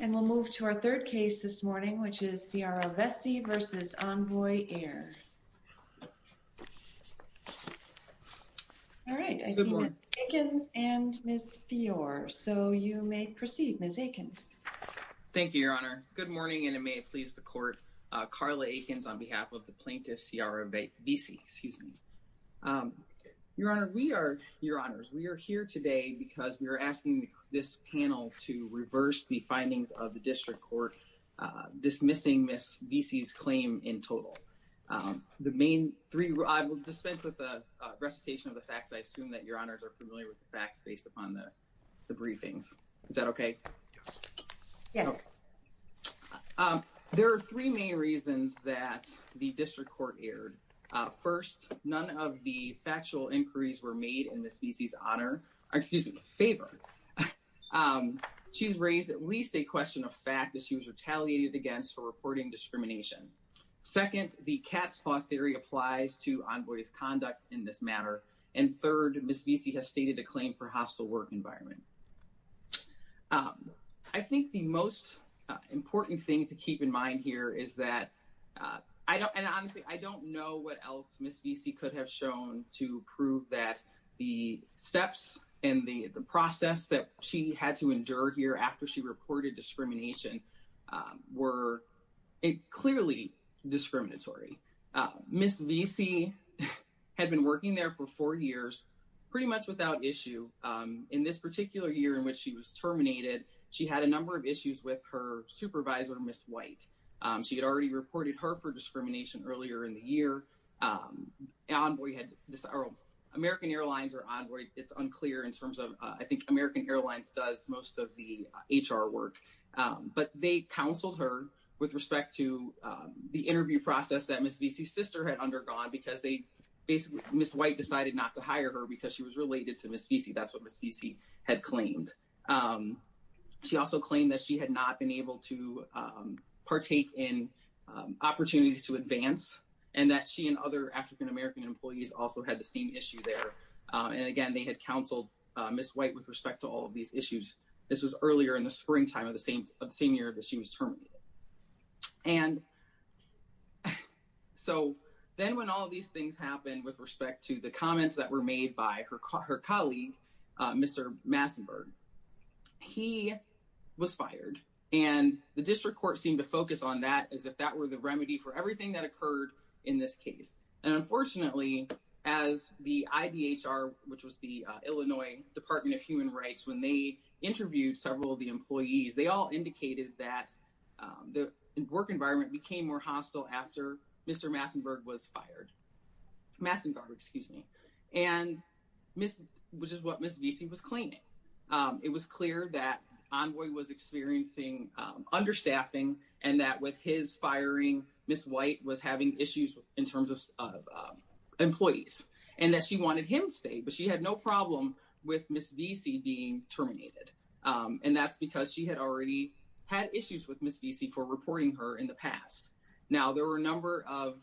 And we'll move to our third case this morning, which is Ciara Vesey versus Envoy Air. All right, I see Ms. Aiken and Ms. Fiore, so you may proceed, Ms. Aikens. Thank you, Your Honor. Good morning, and may it please the court, Carla Aikens on behalf of the plaintiff Ciara Vesey. Excuse me. Your Honor, we are, Your Honors, we are here today because we are asking this panel to reverse the findings of the district court dismissing Ms. Vesey's claim in total. The main three, I will dispense with the recitation of the facts. I assume that Your Honors are familiar with the facts based upon the briefings. Is that okay? Yes. Yes. There are three main reasons that the district court erred. First, none of the factual inquiries were made in Ms. Vesey's honor, excuse me, favor. She's raised at least a question of fact that she was retaliated against for reporting discrimination. Second, the cat's paw theory applies to Envoy's conduct in this matter. And third, Ms. Vesey has stated a claim for hostile work environment. I think the most important thing to keep in mind here is that, and honestly, I don't know what else Ms. Vesey could have shown to prove that the steps and the process that she had to endure here after she reported discrimination were clearly discriminatory. Ms. Vesey had been working there for four years, pretty much without issue. In this particular year in which she was terminated, she had a number of issues with her supervisor, Ms. White. She had already reported her for discrimination earlier in the year. Envoy had, American Airlines or Envoy, it's unclear in terms of, I think American Airlines does most of the HR work. But they counseled her with respect to the interview process that Ms. Vesey's sister had undergone because they basically, Ms. White decided not to hire her because she was related to Ms. Vesey. That's what Ms. Vesey had claimed. She also claimed that she had not been able to partake in opportunities to advance and that she and other African-American employees also had the same issue there. And again, they had counseled Ms. White with respect to all of these issues. This was earlier in the springtime of the same year that she was terminated. And so then when all of these things happened with respect to the comments that were made by her colleague, Mr. Massenburg, he was fired. And the district court seemed to focus on that as if that were the remedy for everything that occurred in this case. And unfortunately, as the IDHR, which was the Illinois Department of Human Rights, when they interviewed several of the employees, they all indicated that the work environment became more hostile after Mr. Massenburg was fired. Massenburg, excuse me. And which is what Ms. Vesey was claiming. It was clear that Envoy was experiencing understaffing and that with his firing, Ms. White was having issues in terms of employees and that she wanted him to stay, but she had no problem with Ms. Vesey being terminated. And that's because she had already had issues with Ms. Vesey for reporting her in the past. Now, there were a number of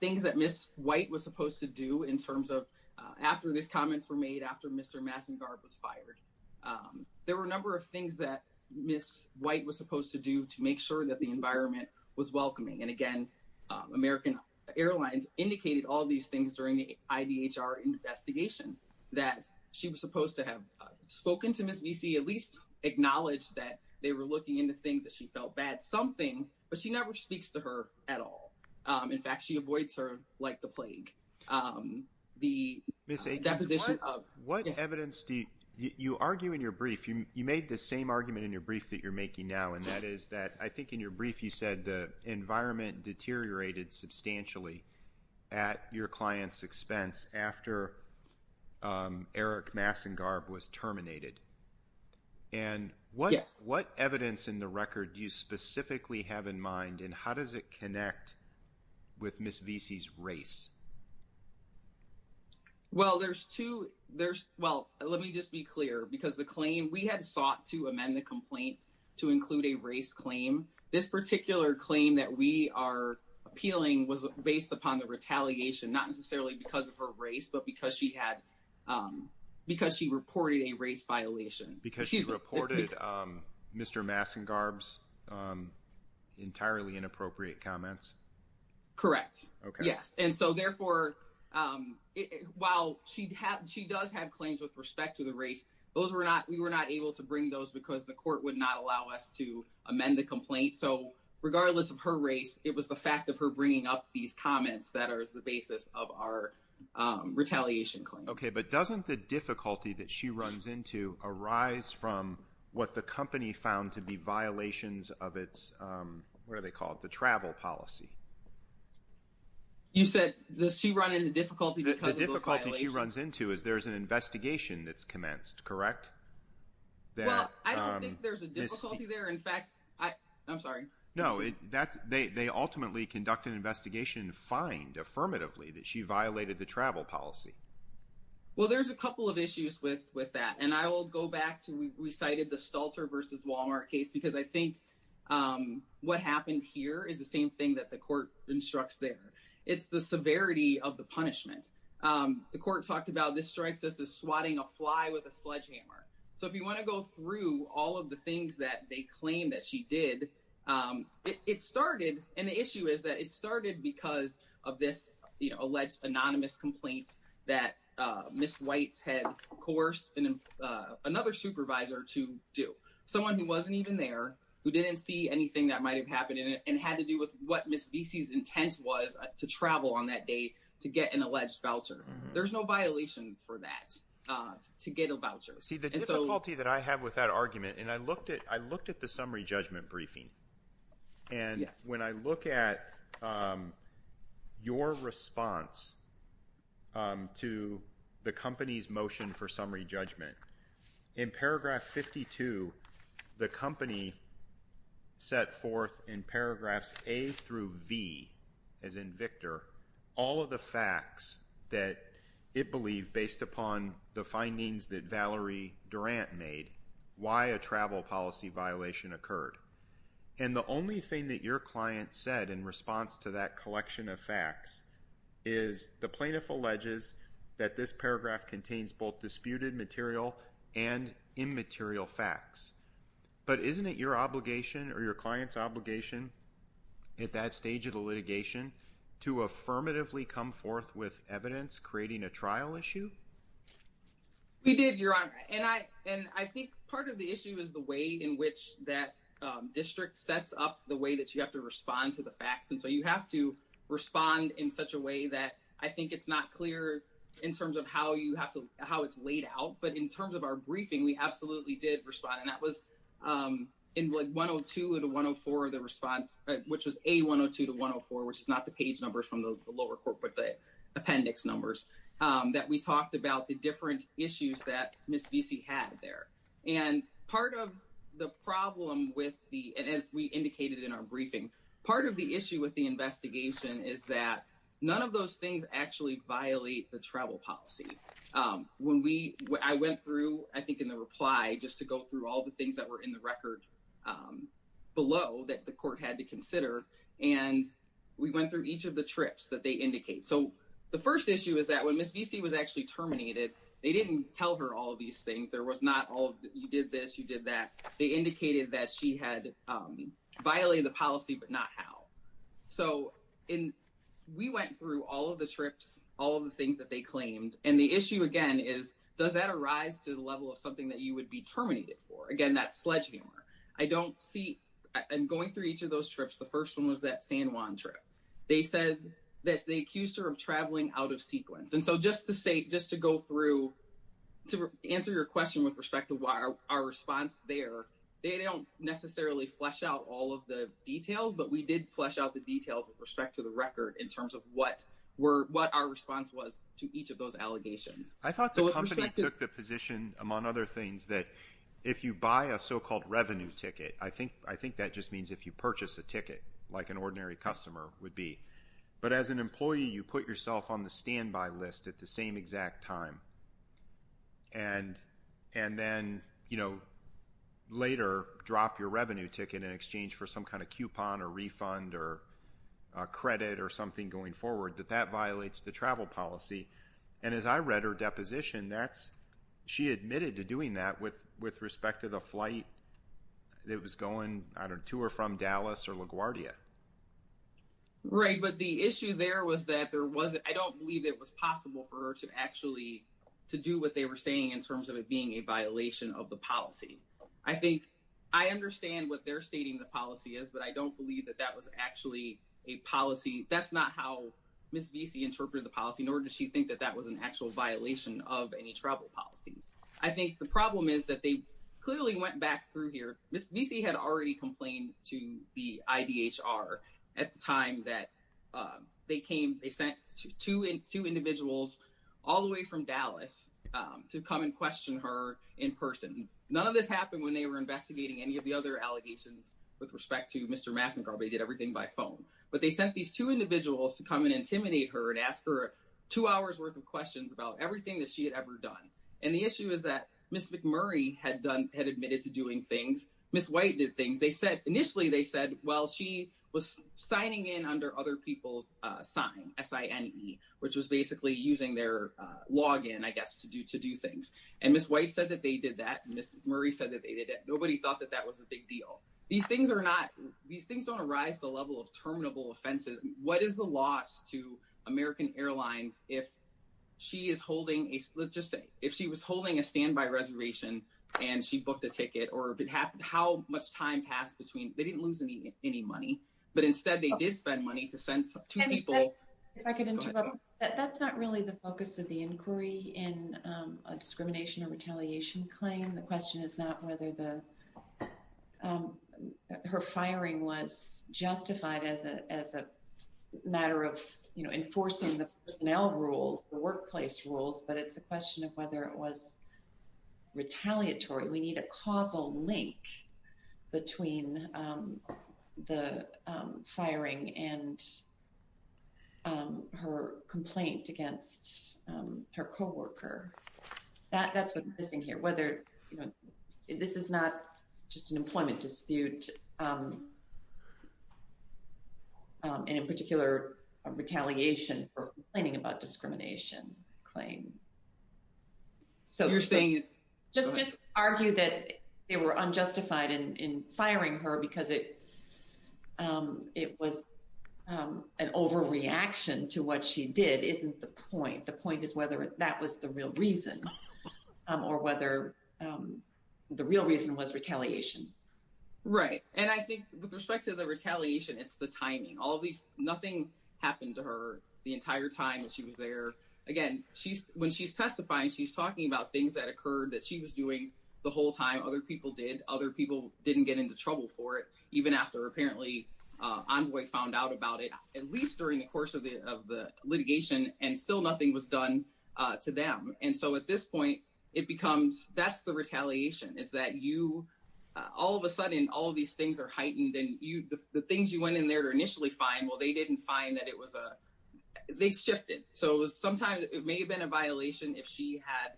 things that Ms. White was supposed to do in terms of, after these comments were made, after Mr. Massenburg was fired. There were a number of things that Ms. White was supposed to do to make sure that the environment was welcoming. And again, American Airlines indicated all these things during the IDHR investigation, that she was supposed to have spoken to Ms. Vesey, at least acknowledge that they were looking into things that she felt bad, something, but she never speaks to her at all. In fact, she avoids her like the plague. The deposition of- What evidence do you argue in your brief, you made the same argument in your brief that you're making now. And that is that, I think in your brief, you said the environment deteriorated substantially at your client's expense after Eric Massengarb was terminated. And what evidence in the record do you specifically have in mind and how does it connect with Ms. Vesey's race? Well, there's two, there's, well, let me just be clear, because the claim, we had sought to amend the complaints to include a race claim. This particular claim that we are appealing was based upon the retaliation, not necessarily because of her race, but because she had, because she reported a race violation. Because she reported Mr. Massengarb's entirely inappropriate comments. Correct. Okay. Yes. And so therefore, while she does have claims with respect to the race, we were not able to bring those because the court would not allow us to amend the complaint. So regardless of her race, it was the fact of her bringing up these comments that are as the basis of our retaliation claim. Okay, but doesn't the difficulty that she runs into arise from what the company found to be violations of its, what are they called, the travel policy? You said, does she run into difficulty because of those violations? The difficulty she runs into is there's an investigation that's commenced, correct? Well, I don't think there's a difficulty there. In fact, I'm sorry. No, they ultimately conduct an investigation and find affirmatively that she violated the travel policy. Well, there's a couple of issues with that. And I will go back to, we cited the Stalter versus Walmart case, because I think what happened here is the same thing that the court instructs there. It's the severity of the punishment. The court talked about, this strikes us as swatting a fly with a sledgehammer. So if you wanna go through all of the things that they claim that she did, it started, and the issue is that it started because of this alleged anonymous complaint that Ms. White's had coerced another supervisor to do, someone who wasn't even there, who didn't see anything that might've happened in it, and had to do with what Ms. Vesey's intent was to travel on that day to get an alleged voucher. There's no violation for that, to get a voucher. See, the difficulty that I have with that argument, and I looked at the summary judgment briefing. And when I look at your response to the company's motion for summary judgment, in paragraph 52, the company set forth in paragraphs A through V, as in Victor, all of the facts that it believed, based upon the findings that Valerie Durant made, why a travel policy violation occurred. And the only thing that your client said in response to that collection of facts is the plaintiff alleges that this paragraph contains both disputed material and immaterial facts. But isn't it your obligation, or your client's obligation, at that stage of the litigation, to affirmatively come forth with evidence, creating a trial issue? We did, Your Honor, and I think part of the issue is the way in which that district sets up the way that you have to respond to the facts. And so you have to respond in such a way that I think it's not clear, in terms of how it's laid out. But in terms of our briefing, we absolutely did respond. And that was in 102 to 104, the response, which was A102 to 104, which is not the page numbers from the lower court, but the appendix numbers, that we talked about the different issues that Ms. Vesey had there. And part of the problem with the, and as we indicated in our briefing, part of the issue with the investigation is that none of those things actually violate the travel policy. When we, I went through, I think in the reply, just to go through all the things that were in the record below that the court had to consider. And we went through each of the trips that they indicate. So the first issue is that when Ms. Vesey was actually terminated, they didn't tell her all of these things. There was not all, you did this, you did that. They indicated that she had violated the policy, but not how. So we went through all of the trips, all of the things that they claimed. And the issue again is, does that arise to the level of something that you would be terminated for? Again, that's sledgehammer. I don't see, and going through each of those trips, the first one was that San Juan trip. They said that they accused her of traveling out of sequence. And so just to say, just to go through, to answer your question with respect to our response there, they don't necessarily flesh out all of the details, but we did flesh out the details with respect to the record in terms of what our response was to each of those allegations. I thought the company took the position, among other things, that if you buy a so-called revenue ticket, I think that just means if you purchase a ticket, like an ordinary customer would be. But as an employee, you put yourself on the standby list at the same exact time. And then later drop your revenue ticket in exchange for some kind of coupon or refund or credit or something going forward, that that violates the travel policy. And as I read her deposition, she admitted to doing that with respect to the flight that was going to or from Dallas or LaGuardia. Right, but the issue there was that there wasn't, I don't believe it was possible for her to actually, to do what they were saying in terms of it being a violation of the policy. I think, I understand what they're stating the policy is, but I don't believe that that was actually a policy. That's not how Ms. Vesey interpreted the policy, nor does she think that that was an actual violation of any travel policy. I think the problem is that they clearly went back through here, Ms. Vesey had already complained to the IDHR at the time that they came, they sent two individuals all the way from Dallas to come and question her in person. None of this happened when they were investigating any of the other allegations with respect to Mr. Massengar, they did everything by phone. But they sent these two individuals to come and intimidate her and ask her two hours worth of questions about everything that she had ever done. And the issue is that Ms. McMurray had admitted to doing things, Ms. White did things. They said, initially they said, well, she was signing in under other people's sign, S-I-N-E, which was basically using their login, I guess, to do things. And Ms. White said that they did that, and Ms. McMurray said that they did that. Nobody thought that that was a big deal. These things are not, these things don't arise to the level of terminable offenses. What is the loss to American Airlines if she is holding a, let's just say, if she was holding a standby reservation and she booked a ticket, or how much time passed between, they didn't lose any money, but instead they did spend money to send two people. If I could interrupt, that's not really the focus of the inquiry in a discrimination or retaliation claim. The question is not whether her firing was justified as a matter of enforcing the personnel rule, the workplace rules, but it's a question of whether it was retaliatory. We need a causal link between the firing and her complaint against her coworker. That's what's missing here, whether, this is not just an employment dispute, and in particular a retaliation for complaining about discrimination claim. So- You're saying it's- Just to argue that they were unjustified in firing her because it was an overreaction to what she did isn't the point. The point is whether that was the real reason or whether the real reason was retaliation. Right. And I think with respect to the retaliation, it's the timing. All of these, nothing happened to her the entire time that she was there. Again, when she's testifying, she's talking about things that occurred that she was doing the whole time other people did. Other people didn't get into trouble for it, even after apparently Envoy found out about it, at least during the course of the litigation, and still nothing was done to them. And so at this point, it becomes, that's the retaliation. It's that you, all of a sudden, all of these things are heightened and the things you went in there to initially find, well, they didn't find that it was a, they shifted. So sometimes it may have been a violation if she had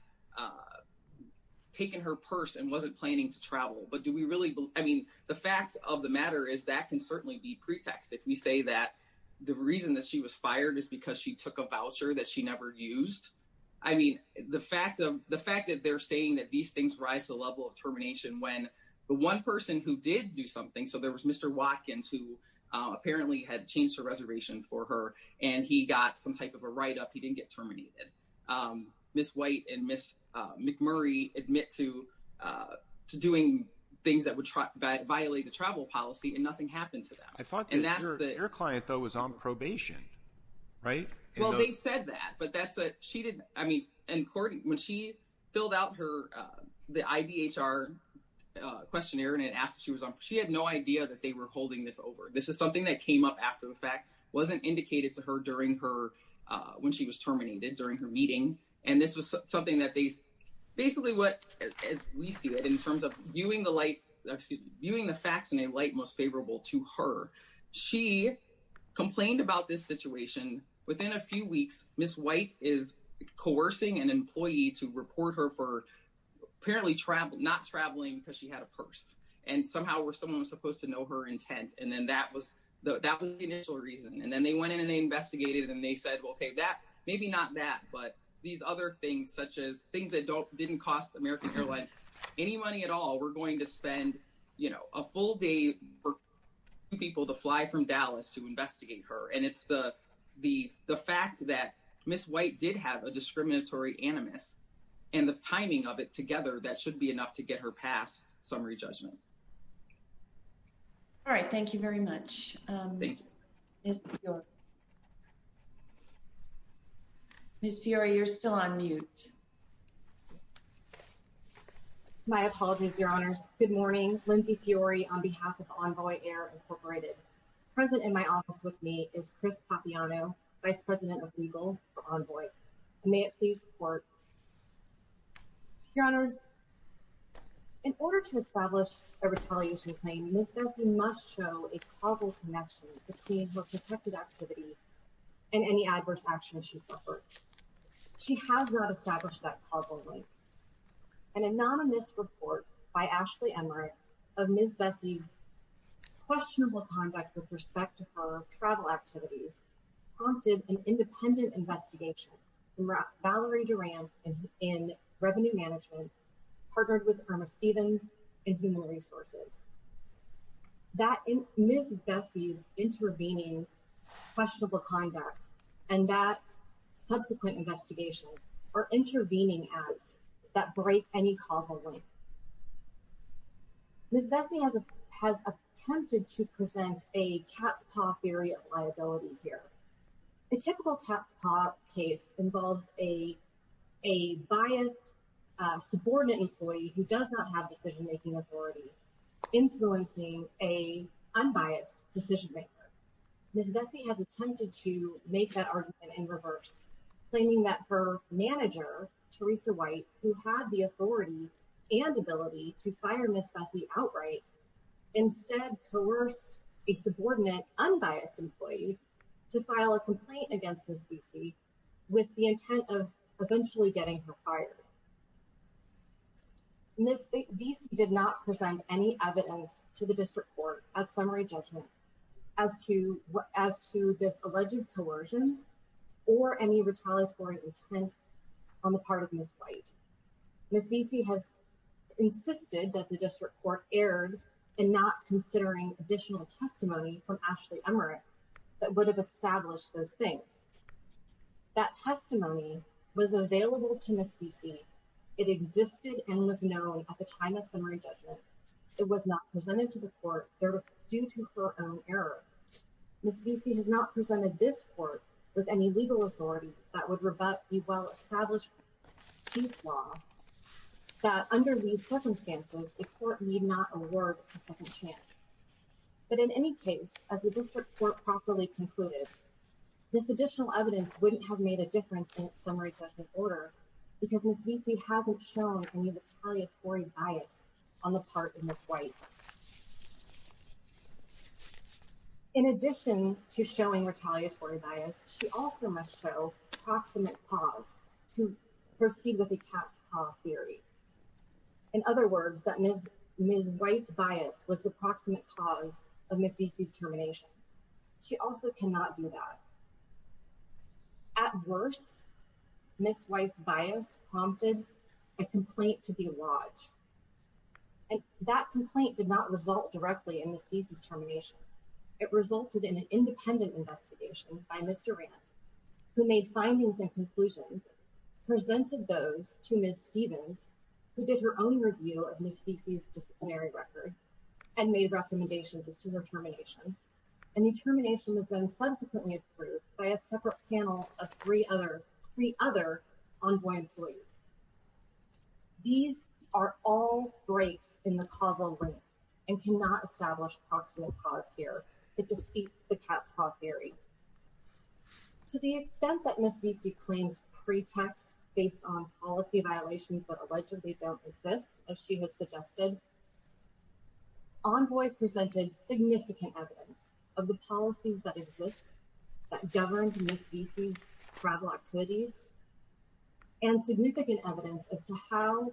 taken her purse and wasn't planning to travel. But do we really, I mean, the fact of the matter is that can certainly be pretext. If we say that the reason that she was fired is because she took a voucher that she never used. I mean, the fact that they're saying that these things rise to the level of termination when the one person who did do something, so there was Mr. Watkins, who apparently had changed her reservation for her, and he got some type of a write-up, he didn't get terminated. Ms. White and Ms. McMurray admit to doing things that would violate the travel policy, and nothing happened to them. I thought your client, though, was on probation, right? Well, they said that, but that's a, she didn't, I mean, and Courtney, when she filled out her, the IBHR questionnaire, and it asked if she was on, she had no idea that they were holding this over. This is something that came up after the fact, wasn't indicated to her during her, when she was terminated, during her meeting. And this was something that they, basically what, as we see it, in terms of viewing the facts in a light most favorable to her, she complained about this situation. Within a few weeks, Ms. White is coercing an employee to report her for apparently not traveling because she had a purse, and somehow someone was supposed to know her intent, and then that was the initial reason. And then they went in and they investigated, and they said, well, okay, that, maybe not that, but these other things, such as things that didn't cost American Airlines any money at all, we're going to spend a full day for people to fly from Dallas to investigate her. And it's the fact that Ms. White did have a discriminatory animus, and the timing of it together, that should be enough to get her passed summary judgment. All right, thank you very much. Thank you. Ms. Fiore, you're still on mute. My apologies, your honors. Good morning, Lindsey Fiore on behalf of Envoy Air Incorporated. Present in my office with me is Chris Papiano, Vice President of Legal for Envoy. May it please report. Your honors, in order to establish a retaliation claim, Ms. Bessie must show a causal connection between her protected activity and any adverse actions she suffered. She has not established that causally. An anonymous report by Ashley Emmerich of Ms. Bessie's questionable conduct with respect to her travel activities prompted an independent investigation from Valerie Duran in Revenue Management, partnered with Irma Stevens in Human Resources. That Ms. Bessie's intervening questionable conduct and that subsequent investigation are intervening ads that break any causal link. Ms. Bessie has attempted to present a cat's paw theory of liability here. A typical cat's paw case involves a biased, subordinate employee who does not have decision-making authority influencing a unbiased decision-maker. Ms. Bessie has attempted to make that argument in reverse, claiming that her manager, Teresa White, who had the authority and ability to fire Ms. Bessie outright, instead coerced a subordinate unbiased employee to file a complaint against Ms. Bessie with the intent of eventually getting her fired. Ms. Bessie did not present any evidence to the district court at summary judgment as to this alleged coercion or any retaliatory intent on the part of Ms. White. Ms. Bessie has insisted that the district court erred in not considering additional testimony from Ashley Emerick that would have established those things. That testimony was available to Ms. Bessie. It existed and was known at the time of summary judgment. It was not presented to the court due to her own error. Ms. Bessie has not presented this court with any legal authority that would rebut the well-established peace law that under these circumstances, the court need not award a second chance. But in any case, as the district court properly concluded, this additional evidence wouldn't have made a difference in its summary judgment order because Ms. Bessie hasn't shown any retaliatory bias on the part of Ms. White. In addition to showing retaliatory bias, she also must show proximate cause to proceed with the cat's paw theory. In other words, that Ms. White's bias was the proximate cause of Ms. Bessie's termination. She also cannot do that. At worst, Ms. White's bias prompted a complaint to be lodged and that complaint did not result directly in Ms. Bessie's termination. It resulted in an independent investigation by Mr. Rand who made findings and conclusions, presented those to Ms. Stevens, who did her own review of Ms. Bessie's disciplinary record and made recommendations as to her termination. And the termination was then subsequently approved by a separate panel of three other envoy employees. These are all breaks in the causal link and cannot establish proximate cause here. It defeats the cat's paw theory. To the extent that Ms. Bessie claims pretext based on policy violations that allegedly don't exist as she has suggested, envoy presented significant evidence of the policies that exist that governed Ms. Bessie's travel activities and significant evidence as to how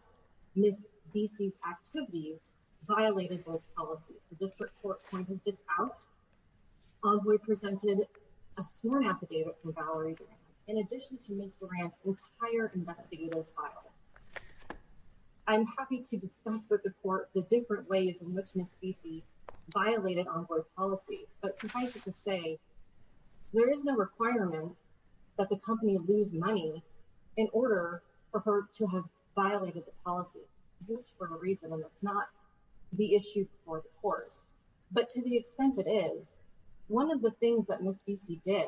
Ms. Bessie's activities violated those policies. The district court pointed this out. Envoy presented a sworn affidavit from Valerie Durant in addition to Ms. Durant's entire investigative trial. I'm happy to discuss with the court the different ways in which Ms. Bessie violated envoy policies, but suffice it to say there is no requirement that the company lose money in order for her to have violated the policy. This is for a reason and it's not the issue for the court, but to the extent it is, one of the things that Ms. Bessie did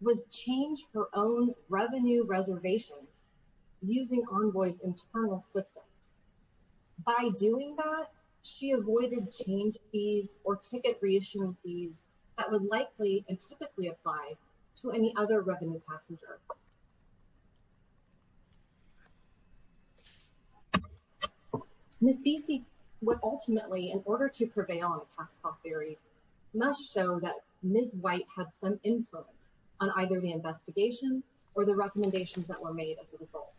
was change her own revenue reservations using envoy's internal systems. By doing that, she avoided change fees or ticket reissuing fees that would likely and typically apply to any other revenue passenger. Ms. Bessie would ultimately, in order to prevail on a tax cut theory, must show that Ms. White had some influence on either the investigation or the recommendations that were made as a result.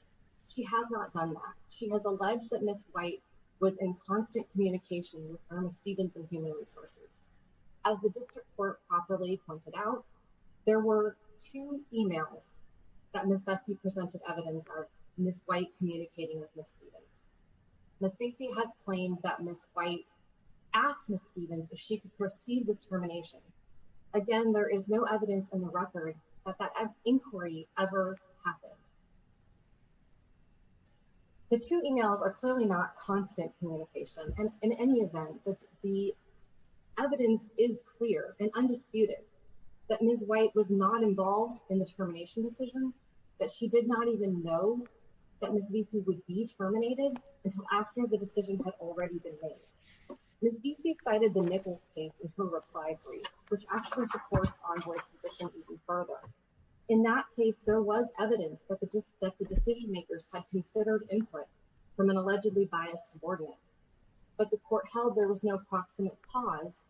She has not done that. She has alleged that Ms. White was in constant communication with Irma Stevens and Human Resources. As the district court properly pointed out, there were two emails that Ms. Bessie presented evidence of Ms. White communicating with Ms. Stevens. Ms. Bessie has claimed that Ms. White asked Ms. Stevens if she could proceed with termination. Again, there is no evidence in the record that that inquiry ever happened. The two emails are clearly not constant communication. And in any event, the evidence is clear and undisputed that Ms. White was not involved in the termination decision, that she did not even know that Ms. Bessie would be terminated until after the decision had already been made. Ms. Bessie cited the Nichols case in her reply brief, which actually supports Envoy's position even further. In that case, there was evidence that the decision-makers had considered input from an allegedly biased subordinate, but the court held there was no proximate cause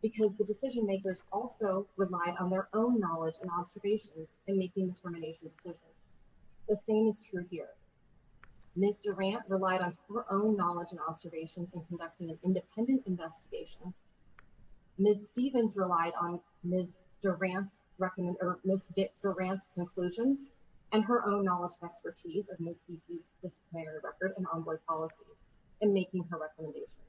because the decision-makers also relied on their own knowledge and observations in making the termination decision. The same is true here. Ms. Durant relied on her own knowledge and observations in conducting an independent investigation. Ms. Stevens relied on Ms. Durant's conclusions and her own knowledge and expertise of Ms. Bessie's disciplinary record and envoy policies in making her recommendations.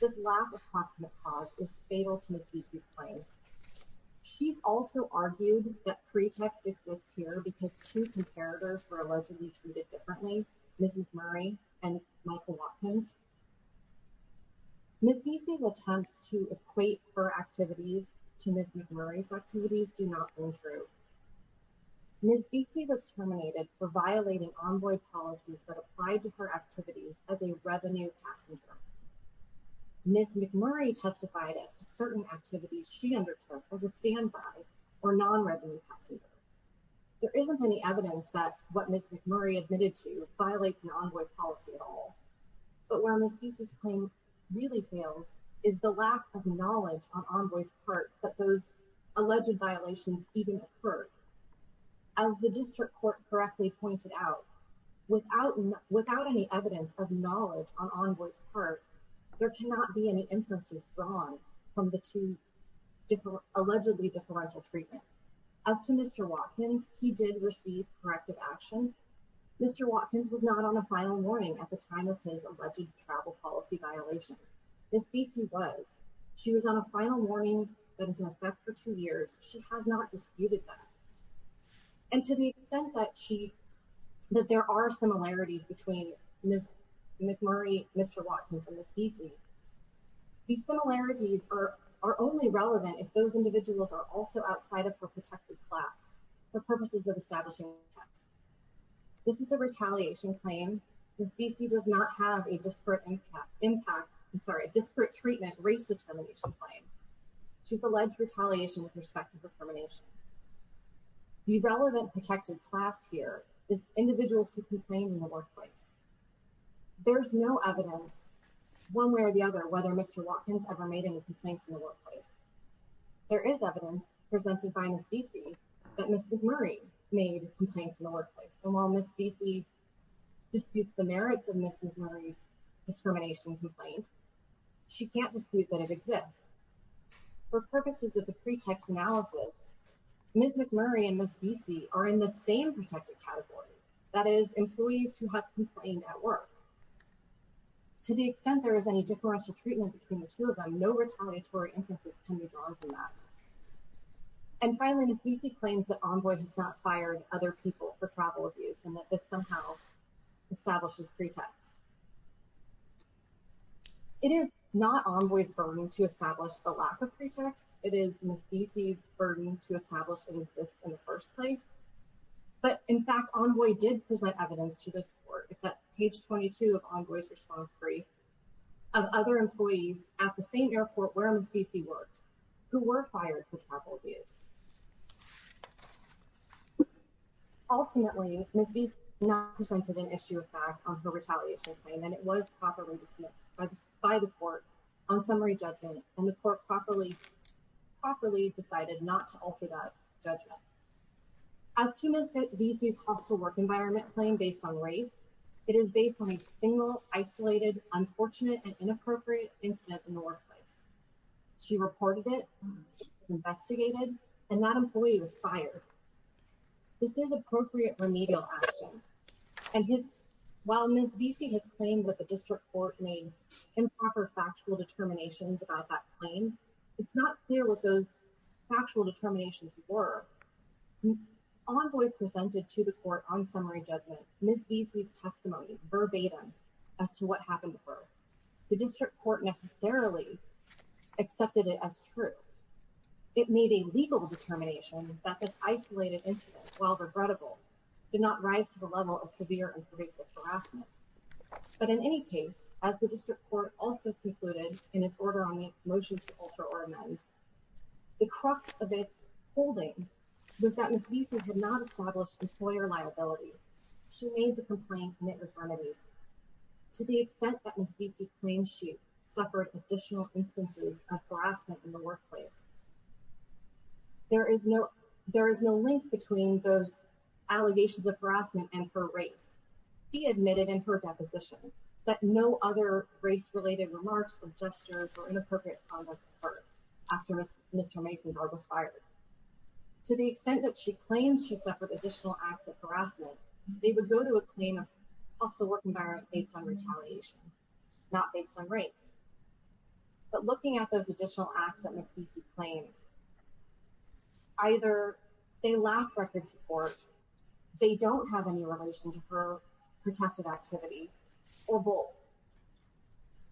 This lack of proximate cause is fatal to Ms. Bessie's claim. She's also argued that pretext exists here because two comparators were allegedly treated differently, Ms. McMurray and Michael Watkins. Ms. Bessie's attempts to equate her activities to Ms. McMurray's activities do not hold true. Ms. Bessie was terminated for violating envoy policies that applied to her activities as a revenue passenger. Ms. McMurray testified as to certain activities she undertook as a standby or non-revenue passenger. There isn't any evidence that what Ms. McMurray admitted to violate the envoy policy at all. But where Ms. Bessie's claim really fails is the lack of knowledge on envoy's part that those alleged violations even occurred. As the district court correctly pointed out, without any evidence of knowledge on envoy's part, there cannot be any inferences drawn from the two allegedly differential treatment. As to Mr. Watkins, he did receive corrective action. Mr. Watkins was not on a final warning at the time of his alleged travel policy violation. Ms. Bessie was. She was on a final warning that is in effect for two years. She has not disputed that. And to the extent that there are similarities between Ms. McMurray, Mr. Watkins, and Ms. Bessie, these similarities are only relevant if those individuals are also outside of her protected class for purposes of establishing. This is a retaliation claim. Ms. Bessie does not have a disparate impact, I'm sorry, a disparate treatment race determination claim. She's alleged retaliation with respect to her termination. The relevant protected class here is individuals who complained in the workplace. There's no evidence one way or the other whether Mr. Watkins ever made any complaints in the workplace. There is evidence presented by Ms. Bessie that Ms. McMurray made complaints in the workplace. And while Ms. Bessie disputes the merits of Ms. McMurray's discrimination complaint, she can't dispute that it exists. For purposes of the pretext analysis, Ms. McMurray and Ms. Bessie are in the same protected category. That is employees who have complained at work. To the extent there is any differential treatment between the two of them, no retaliatory inferences can be drawn from that. And finally, Ms. Bessie claims that Envoy has not fired other people for travel abuse and that this somehow establishes pretext. It is not Envoy's burden to establish the lack of pretext, it is Ms. Bessie's burden to establish it exists in the first place. But in fact, Envoy did present evidence to this court. It's at page 22 of Envoy's response brief of other employees at the same airport where Ms. Bessie worked who were fired for travel abuse. Ultimately, Ms. Bessie not presented an issue of fact on her retaliation claim and it was properly dismissed by the court on summary judgment and the court properly decided not to alter that judgment. As to Ms. Bessie's hostile work environment claim based on race, it is based on a single, isolated, unfortunate and inappropriate incident in the workplace. She reported it, it was investigated and that employee was fired. This is appropriate remedial action. And while Ms. Bessie has claimed that the district court made improper factual determinations about that claim, it's not clear what those factual determinations were. Envoy presented to the court on summary judgment, Ms. Bessie's testimony verbatim as to what happened before. The district court necessarily accepted it as true. It made a legal determination that this isolated incident while regrettable did not rise to the level of severe and pervasive harassment. But in any case, as the district court also concluded in its order on the motion to alter or amend, the crux of its holding was that Ms. Bessie had not established employer liability. She made the complaint and it was remedied. To the extent that Ms. Bessie claims she suffered additional instances of harassment in the workplace, there is no link between those allegations of harassment and her race. She admitted in her deposition that no other race-related remarks or gestures or inappropriate conduct occurred after Mr. Masendar was fired. To the extent that she claims she suffered additional acts of harassment, they would go to a claim of hostile work environment based on retaliation, not based on race. But looking at those additional acts that Ms. Bessie claims, either they lack record support, they don't have any relation to her protected activity or both.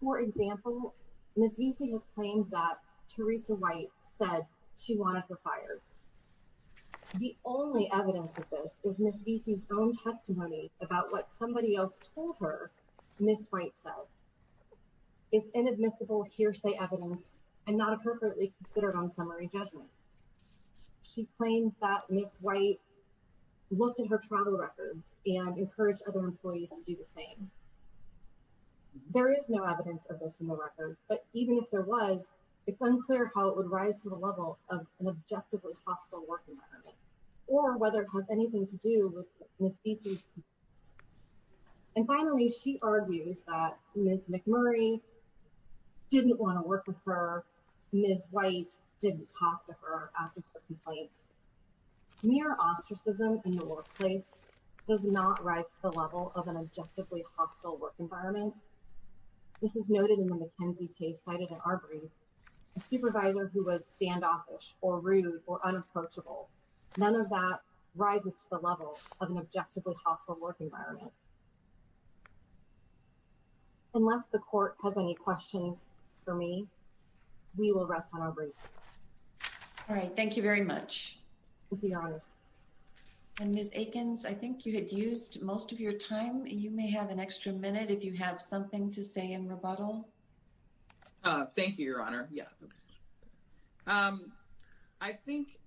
For example, Ms. Bessie has claimed that Teresa White said she wanted her fired. The only evidence of this is Ms. Bessie's own testimony about what somebody else told her Ms. White said. It's inadmissible hearsay evidence and not appropriately considered on summary judgment. She claims that Ms. White looked at her travel records and encouraged other employees to do the same. There is no evidence of this in the record, but even if there was, it's unclear how it would rise to the level of an objectively hostile work environment or whether it has anything to do with Ms. Bessie's complaint. And finally, she argues that Ms. McMurray didn't want to work with her, Ms. White didn't talk to her after her complaints. Mere ostracism in the workplace does not rise to the level of an objectively hostile work environment. And this is noted in the McKenzie case cited in our brief, a supervisor who was standoffish or rude or unapproachable, none of that rises to the level of an objectively hostile work environment. Unless the court has any questions for me, we will rest on our brief. All right, thank you very much. With the honors. And Ms. Aikens, I think you had used most of your time. You may have an extra minute if you have something to say in rebuttal. Thank you, your honor. I think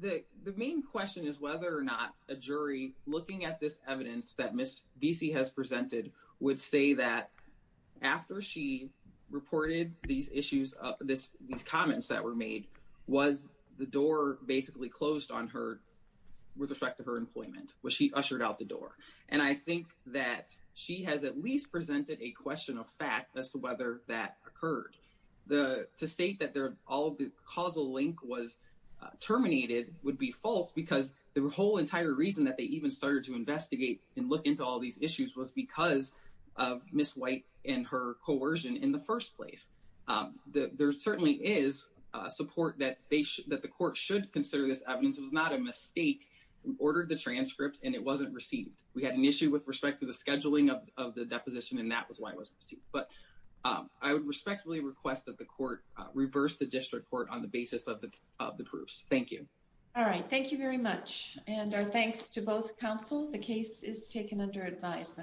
the main question is whether or not a jury looking at this evidence that Ms. Bessie has presented would say that after she reported these issues, these comments that were made, was the door basically closed on her with respect to her employment? Was she ushered out the door? And I think that she has at least presented a question of fact as to whether that occurred. To state that all the causal link was terminated would be false because the whole entire reason that they even started to investigate and look into all these issues was because of Ms. White and her coercion in the first place. There certainly is support that the court should consider this evidence. It was not a mistake. We ordered the transcripts and it wasn't received. We had an issue with respect to the scheduling of the deposition and that was why it wasn't received. But I would respectfully request that the court reverse the district court on the basis of the proofs. Thank you. All right, thank you very much. And our thanks to both counsel. The case is taken under advisement.